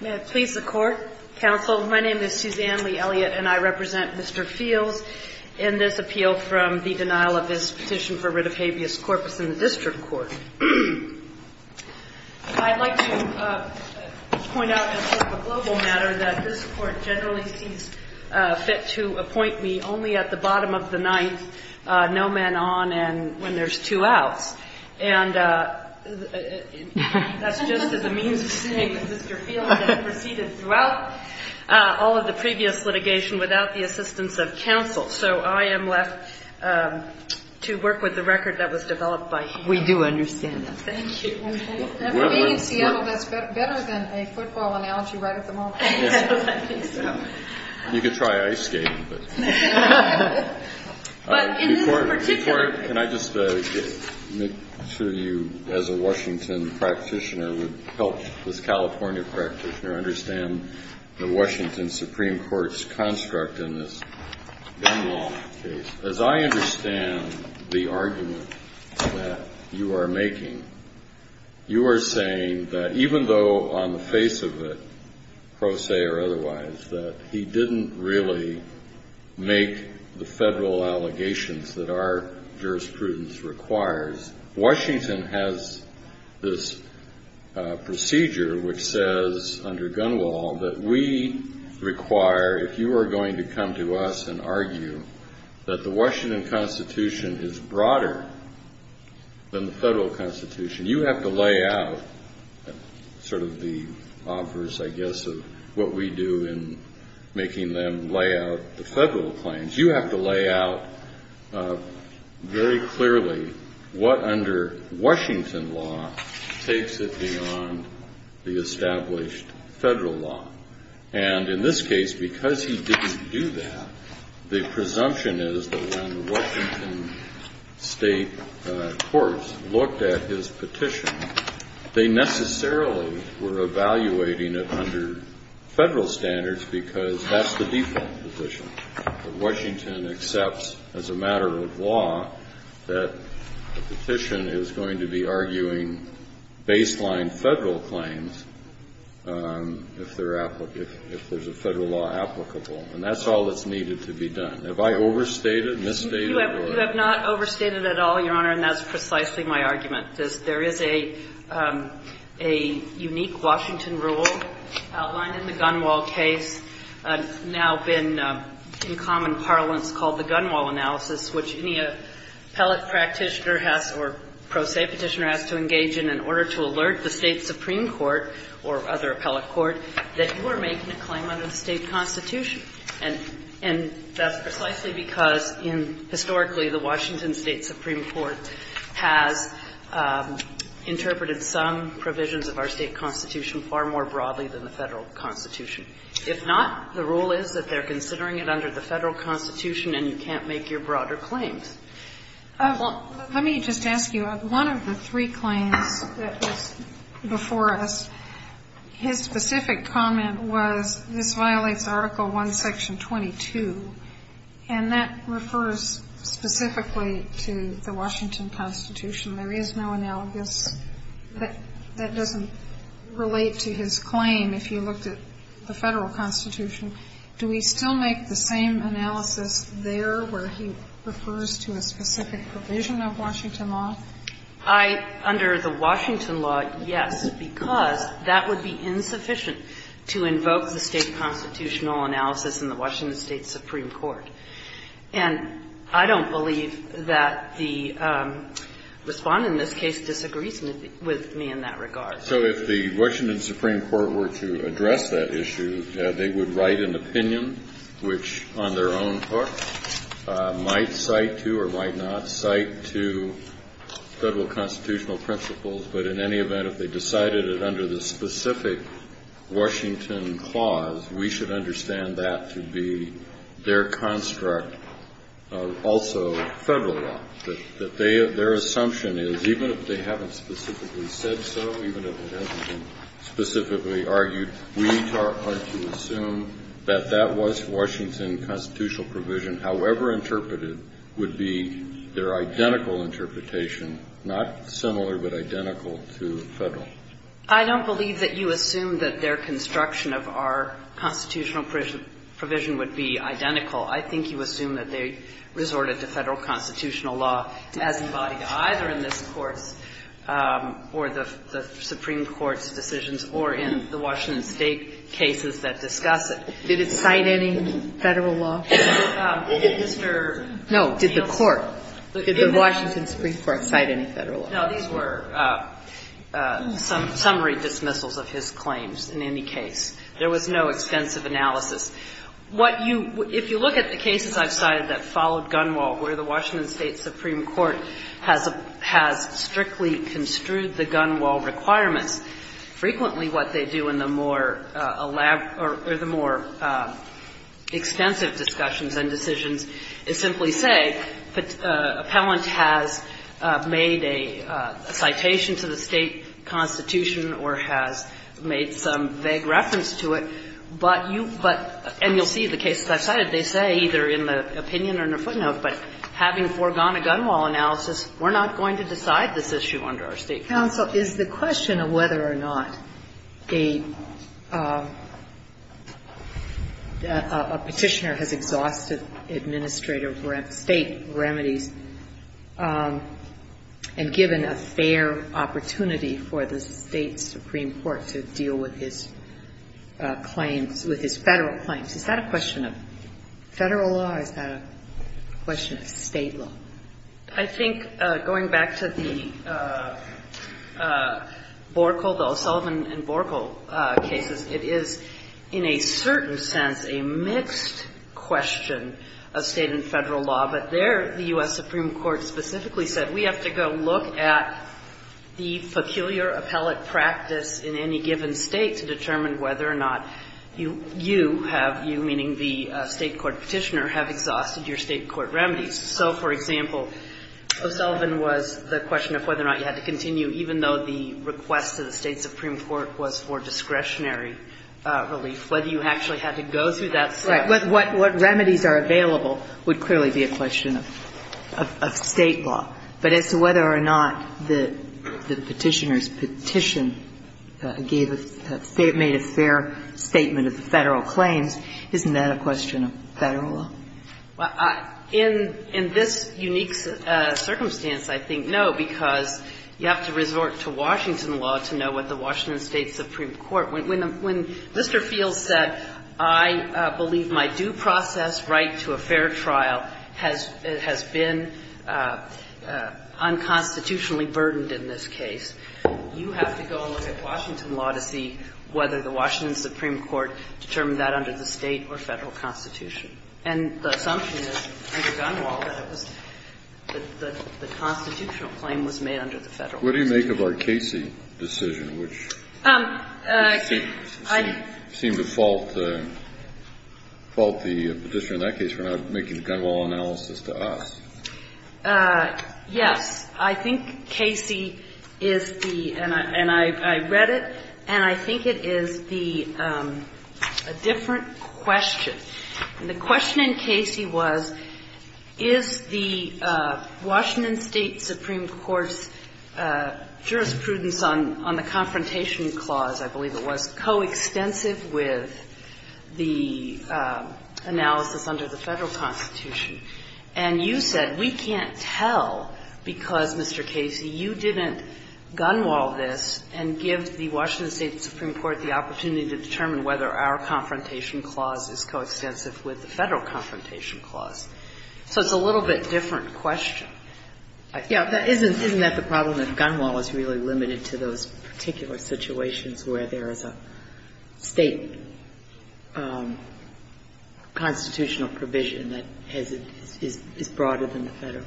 May I please the Court? Counsel, my name is Suzanne Lee Elliott, and I represent Mr. Fields in this appeal from the denial of his petition for writ of habeas corpus in the district court. I'd like to point out as a global matter that this Court generally sees fit to appoint me only at the bottom of the ninth, no men on and when there's two outs. And that's just the way it is. This is a means of saying that Mr. Fields has proceeded throughout all of the previous litigation without the assistance of counsel. So I am left to work with the record that was developed by him. We do understand that. Thank you. And for being in Seattle, that's better than a football analogy right at the moment. I think so. You could try ice skating, but. But in this particular. Before, can I just make sure you, as a Washington practitioner, would help this California practitioner understand the Washington Supreme Court's construct in this Dunlop case. As I understand the argument that you are making, you are saying that even though on the face of it, pro se or otherwise, that he didn't really make the federal allegations that our jurisprudence requires, Washington has this procedure which says under Gunwale that we require, if you are going to come to us and argue that the Washington Constitution is broader than the federal constitution, you have to lay out sort of the offers, I guess, of what we do in making them lay out the federal claims. You have to lay out very clearly what under Washington law takes it beyond the established federal law. And in this case, because he didn't do that, the presumption is that when Washington state courts looked at his petition, they necessarily were evaluating it under federal standards because that's the default position. Washington accepts as a matter of law that a petition is going to be arguing baseline federal claims if there's a federal law applicable. And that's all that's needed to be done. Have I overstated, misstated? You have not overstated at all, Your Honor, and that's precisely my argument. There is a unique Washington rule outlined in the Gunwale case. It's now been in common parlance called the Gunwale analysis, which any appellate practitioner has or pro se petitioner has to engage in in order to alert the state supreme court or other appellate court that you are making a claim under the state constitution. And that's precisely because historically the Washington state supreme court has interpreted some provisions of our state constitution far more broadly than the federal constitution. If not, the rule is that they're considering it under the federal constitution and you can't make your broader claims. Well, let me just ask you. One of the three claims that was before us, his specific comment was, this violates Article I, Section 22, and that refers specifically to the Washington constitution. There is no analogous. That doesn't relate to his claim if you looked at the federal constitution. Do we still make the same analysis there where he refers to a specific provision of Washington law? I, under the Washington law, yes, because that would be insufficient to invoke the state constitutional analysis in the Washington state supreme court. And I don't believe that the Respondent in this case disagrees with me in that regard. So if the Washington supreme court were to address that issue, they would write an opinion which, on their own hook, might cite to or might not cite to federal constitutional principles. But in any event, if they decided it under the specific Washington clause, we should understand that to be their construct of also federal law. Their assumption is, even if they haven't specifically said so, even if it hasn't been specifically argued, we are to assume that that was Washington constitutional provision, however interpreted, would be their identical interpretation, not similar but identical to federal. I don't believe that you assume that their construction of our constitutional provision would be identical. I think you assume that they resorted to federal constitutional law as embodied either in this Court's or the supreme court's decisions or in the Washington state cases that discuss it. Did it cite any federal law? No. Did the court? Did the Washington supreme court cite any federal law? No. These were summary dismissals of his claims in any case. There was no extensive analysis. What you – if you look at the cases I've cited that followed Gunwald, where the plaintiff has strictly construed the Gunwald requirements, frequently what they do in the more elaborate or the more extensive discussions and decisions is simply say that an appellant has made a citation to the state constitution or has made some vague reference to it, but you – and you'll see the cases I've cited, they say either in the opinion or in the footnotes, but having foregone a Gunwald analysis, we're not going to decide this issue under our state counsel. Counsel, is the question of whether or not a petitioner has exhausted administrative state remedies and given a fair opportunity for the state supreme court to deal with his claims – with his federal claims. Is that a question of federal law or is that a question of state law? I think going back to the Borkel, the O'Sullivan and Borkel cases, it is in a certain sense a mixed question of state and federal law, but there the U.S. Supreme Court specifically said we have to go look at the peculiar appellate practice in any given state to determine whether or not you have – you, meaning the state court petitioner, have exhausted your state court remedies. So, for example, O'Sullivan was the question of whether or not you had to continue even though the request to the state supreme court was for discretionary relief, whether you actually had to go through that step. Right. What remedies are available would clearly be a question of state law, but as to whether or not the petitioner's petition gave a – made a fair statement of the federal claims, isn't that a question of federal law? Well, in this unique circumstance, I think no, because you have to resort to Washington law to know what the Washington State Supreme Court – when Mr. Fields said, I believe my due process right to a fair trial has been unconstitutional, I think that's unconstitutionally burdened in this case. You have to go and look at Washington law to see whether the Washington Supreme Court determined that under the state or federal constitution. And the assumption is, under Gunn-Wall, that it was – that the constitutional claim was made under the federal constitution. What do you make of our Casey decision, which seemed to fault the petitioner in that case for not making the Gunn-Wall analysis to us? Yes. I think Casey is the – and I read it, and I think it is the – a different question. And the question in Casey was, is the Washington State Supreme Court's jurisprudence on the confrontation clause, I believe it was, coextensive with the analysis under the federal constitution? And you said, we can't tell because, Mr. Casey, you didn't Gunn-Wall this and give the Washington State Supreme Court the opportunity to determine whether our confrontation clause is coextensive with the federal confrontation clause. So it's a little bit different question. Isn't that the problem, that Gunn-Wall is really limited to those particular situations where there is a State constitutional provision that is broader than the federal?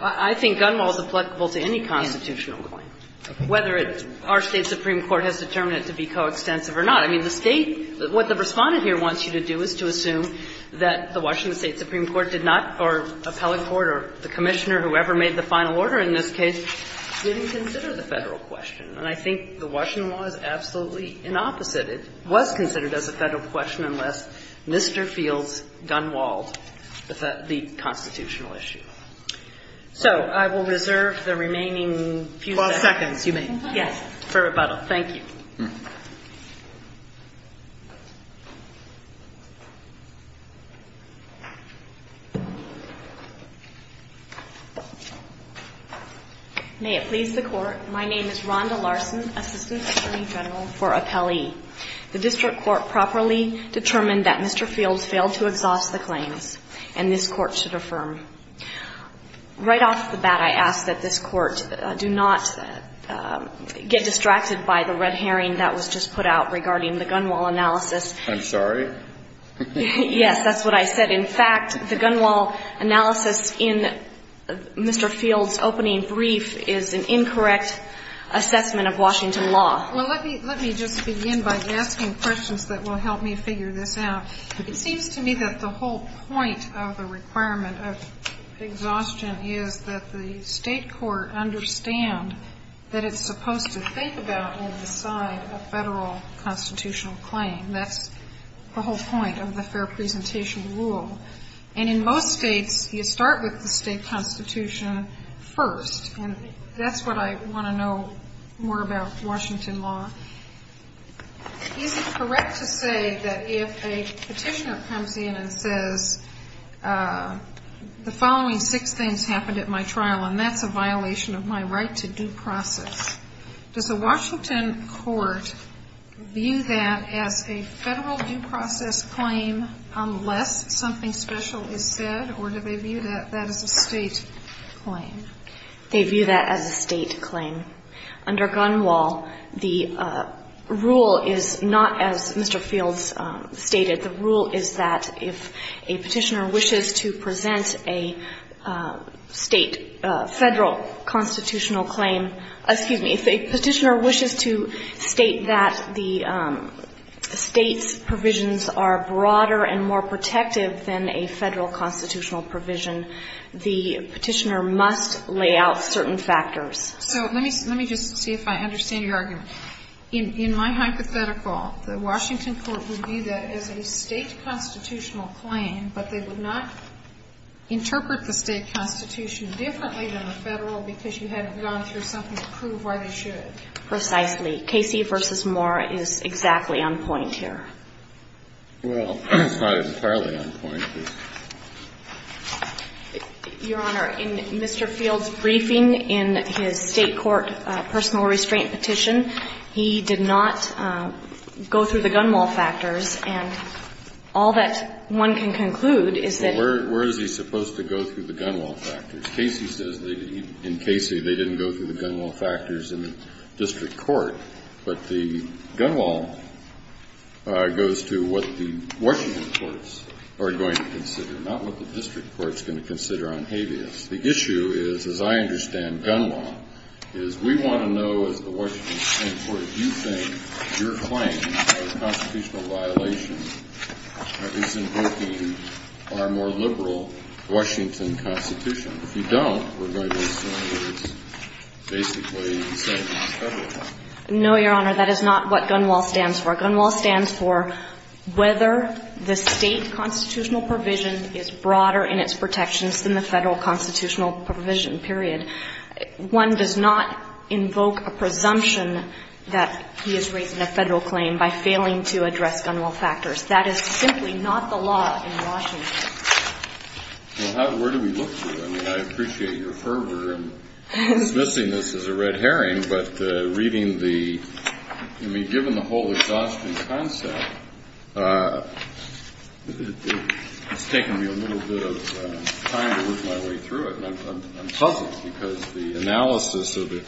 I think Gunn-Wall is applicable to any constitutional claim, whether our State Supreme Court has determined it to be coextensive or not. I mean, the State – what the Respondent here wants you to do is to assume that the Washington State Supreme Court did not, or appellate court or the commissioner, whoever made the final order in this case, didn't consider the federal question. And I think the Washington law is absolutely inopposite. It was considered as a federal question unless Mr. Fields Gunn-Walled the constitutional issue. So I will reserve the remaining few seconds. 12 seconds. You may. Yes. For rebuttal. Thank you. May it please the Court, my name is Rhonda Larson, Assistant Attorney General for Appellee. The District Court properly determined that Mr. Fields failed to exhaust the claims, and this Court should affirm. Right off the bat, I ask that this Court do not get distracted by the red herring that was just put out regarding the Gunn-Walled analysis. I'm sorry? Yes. That's what I said. In fact, the Gunn-Walled analysis in Mr. Fields' opening brief is an incorrect assessment of Washington law. Well, let me just begin by asking questions that will help me figure this out. It seems to me that the whole point of the requirement of exhaustion is that the federal constitutional claim. That's the whole point of the fair presentation rule. And in most states, you start with the state constitution first, and that's what I want to know more about Washington law. Is it correct to say that if a petitioner comes in and says, the following six things happened at my trial, and that's a violation of my right to due process, does the Washington Court view that as a federal due process claim unless something special is said, or do they view that as a state claim? They view that as a state claim. Under Gunn-Walled, the rule is not as Mr. Fields stated. The rule is that if a petitioner wishes to present a state, federal constitutional claim, excuse me, if a petitioner wishes to state that the state's provisions are broader and more protective than a federal constitutional provision, the petitioner must lay out certain factors. So let me just see if I understand your argument. In my hypothetical, the Washington Court would view that as a state constitutional claim, but they would not interpret the state constitution differently than the I'm trying to figure out whether there's something to prove why they should. Precisely. Casey v. Moore is exactly on point here. Well, it's not entirely on point. Your Honor, in Mr. Fields' briefing in his state court personal restraint petition, he did not go through the Gunn-Walled factors, and all that one can conclude Where is he supposed to go through the Gunn-Walled factors? In Casey, they didn't go through the Gunn-Walled factors in the district court, but the Gunn-Walled goes to what the Washington courts are going to consider, not what the district court is going to consider on habeas. The issue is, as I understand Gunn-Walled, is we want to know as the Washington state court, do you think your claim of constitutional violation is invoking our more liberal Washington Constitution? If you don't, we're going to assume that it's basically the same as the Federal Constitution. No, Your Honor, that is not what Gunn-Walled stands for. Gunn-Walled stands for whether the state constitutional provision is broader in its protections than the Federal constitutional provision, period. One does not invoke a presumption that he is raising a Federal claim by failing to address Gunn-Walled factors. That is simply not the law in Washington. Well, where do we look to? I mean, I appreciate your fervor in dismissing this as a red herring, but reading the, I mean, given the whole exhaustion concept, it's taken me a little bit of time to work my way through it, and I'm puzzled because the analysis of the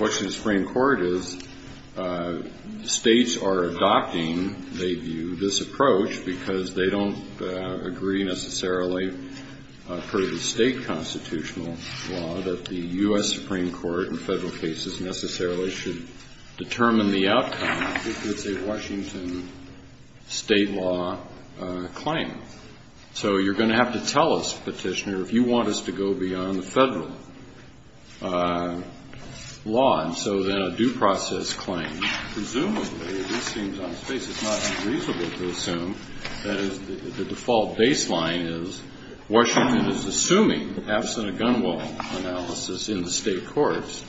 Washington Supreme Court is states are adopting, they view, this approach because they don't agree necessarily per the state constitutional law that the U.S. Supreme Court in Federal cases necessarily should determine the outcome if it's a Washington state law claim. So you're going to have to tell us, Petitioner, if you want us to go beyond the Federal law. And so then a due process claim, presumably, at least seems on its face it's not unreasonable to assume that the default baseline is Washington is assuming, absent a Gunn-Walled analysis in the state courts,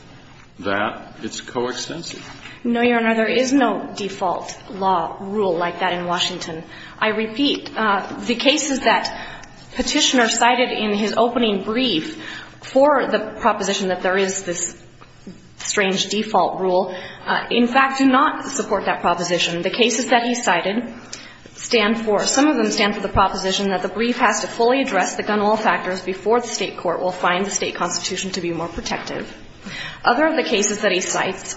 that it's coextensive. No, Your Honor, there is no default law rule like that in Washington. I repeat, the cases that Petitioner cited in his opening brief for the proposition that there is this strange default rule, in fact, do not support that proposition. The cases that he cited stand for, some of them stand for the proposition that the brief has to fully address the Gunn-Walled factors before the state court will find the state constitution to be more protective. Other of the cases that he cites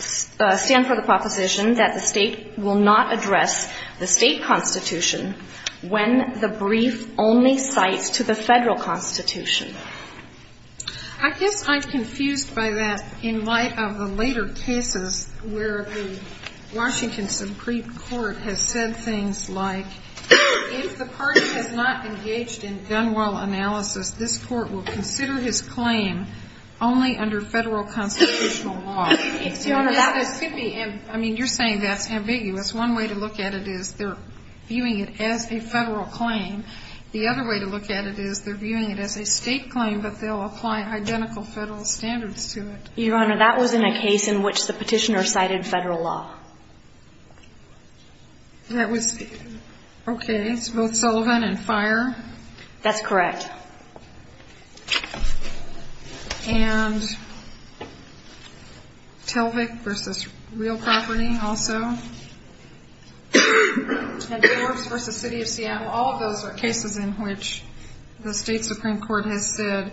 stand for the proposition that the state will not address the state constitution when the brief only cites to the Federal constitution. I guess I'm confused by that in light of the later cases where the Washington Supreme Court has said things like, if the party has not engaged in Gunn-Walled analysis, this court will consider his claim only under Federal constitutional law. Your Honor, that could be, I mean, you're saying that's ambiguous. One way to look at it is they're viewing it as a Federal claim. The other way to look at it is they're viewing it as a state claim, but they'll apply identical Federal standards to it. Your Honor, that was in a case in which the Petitioner cited Federal law. That was, okay, it's both Sullivan and Fire? That's correct. And Telvic versus Real Property also. And Forbes versus City of Seattle, all of those are cases in which the State Supreme Court has said,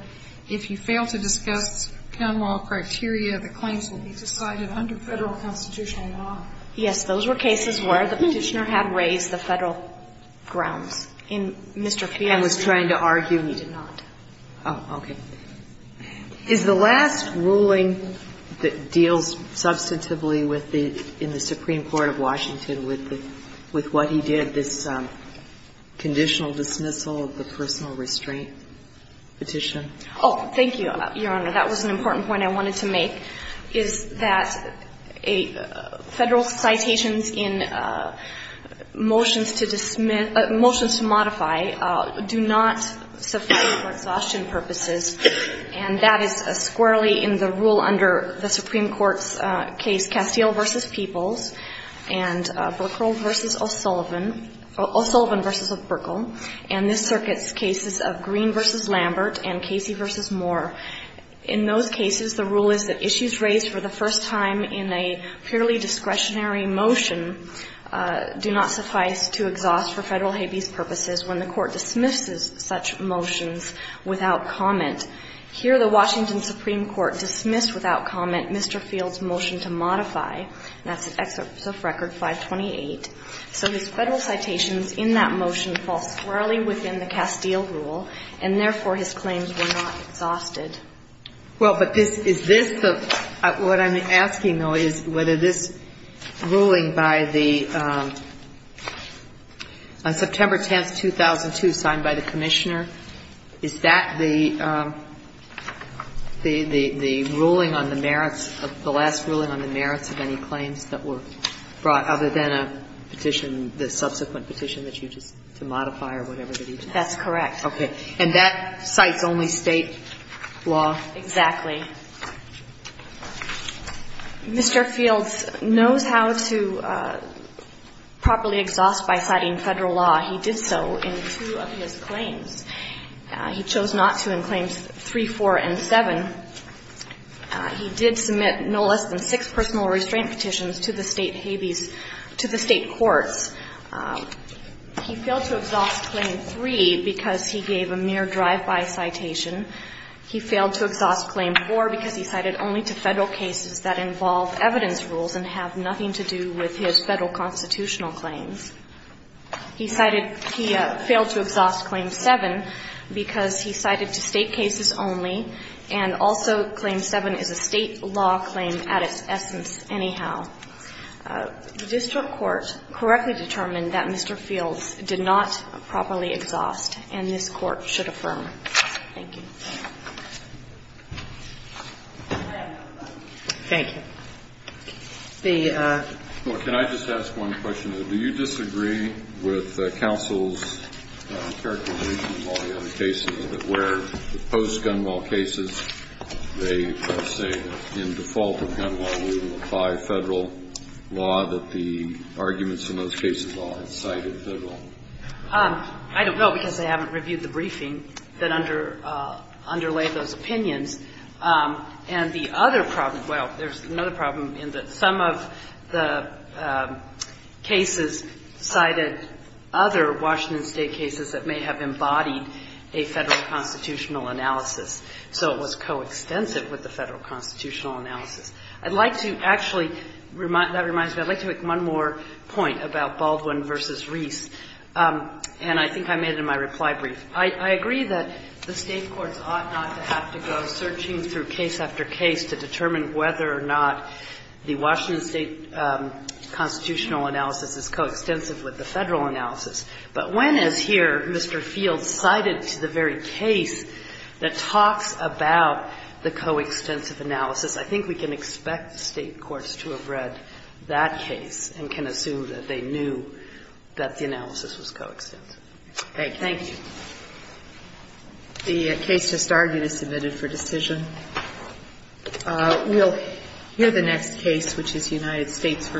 if you fail to discuss Gunn-Walled criteria, the claims will be decided under Federal constitutional law. Yes, those were cases where the Petitioner had raised the Federal grounds. I was trying to argue. He did not. Oh, okay. Is the last ruling that deals substantively with the, in the Supreme Court of Washington with what he did, this conditional dismissal of the personal restraint petition? Oh, thank you, Your Honor. That was an important point I wanted to make, is that Federal citations in motions to dismiss, motions to modify, do not suffice for exhaustion purposes. And that is squarely in the rule under the Supreme Court's case, Castile versus Peoples, and Burkle versus O'Sullivan, O'Sullivan versus Burkle, and this circuit's cases of Green versus Lambert and Casey versus Moore. In those cases, the rule is that issues raised for the first time in a purely discretionary motion do not suffice to exhaust for Federal habeas purposes when the Court dismisses such motions without comment. Here, the Washington Supreme Court dismissed without comment Mr. Fields' motion to modify, and that's Excerpt of Record 528. So his Federal citations in that motion fall squarely within the Castile rule, and therefore, his claims were not exhausted. Well, but is this, what I'm asking, though, is whether this ruling by the, on September 10, 2002, signed by the Commissioner, is that the ruling on the merits, the last ruling on the merits of any claims that were brought other than a petition, the subsequent petition that you just, to modify or whatever that he did? That's correct. Okay. And that cites only State law? Exactly. Mr. Fields knows how to properly exhaust by citing Federal law. He did so in two of his claims. He chose not to in claims 3, 4, and 7. He did submit no less than six personal restraint petitions to the State habeas, to the State courts. He failed to exhaust claim 3 because he gave a mere drive-by citation. He failed to exhaust claim 4 because he cited only to Federal cases that involve evidence rules and have nothing to do with his Federal constitutional claims. He cited, he failed to exhaust claim 7 because he cited to State cases only, and also claim 7 is a State law claim at its essence anyhow. The district court correctly determined that Mr. Fields did not properly exhaust and this Court should affirm. Thank you. Thank you. The ---- Well, can I just ask one question? Do you disagree with counsel's characterization of all the other cases where post-gun law would apply Federal law that the arguments in those cases all had cited Federal? I don't know because I haven't reviewed the briefing that underlaid those opinions. And the other problem, well, there's another problem in that some of the cases cited other Washington State cases that may have embodied a Federal constitutional analysis. So it was coextensive with the Federal constitutional analysis. I'd like to actually, that reminds me, I'd like to make one more point about Baldwin v. Reese, and I think I made it in my reply brief. I agree that the State courts ought not to have to go searching through case after case to determine whether or not the Washington State constitutional analysis is coextensive with the Federal analysis. But when, as here, Mr. Fields cited to the very case that talks about the coextensive analysis, I think we can expect State courts to have read that case and can assume that they knew that the analysis was coextensive. Okay. Thank you. The case just argued is submitted for decision. We'll hear the next case, which is United States v. Stanley.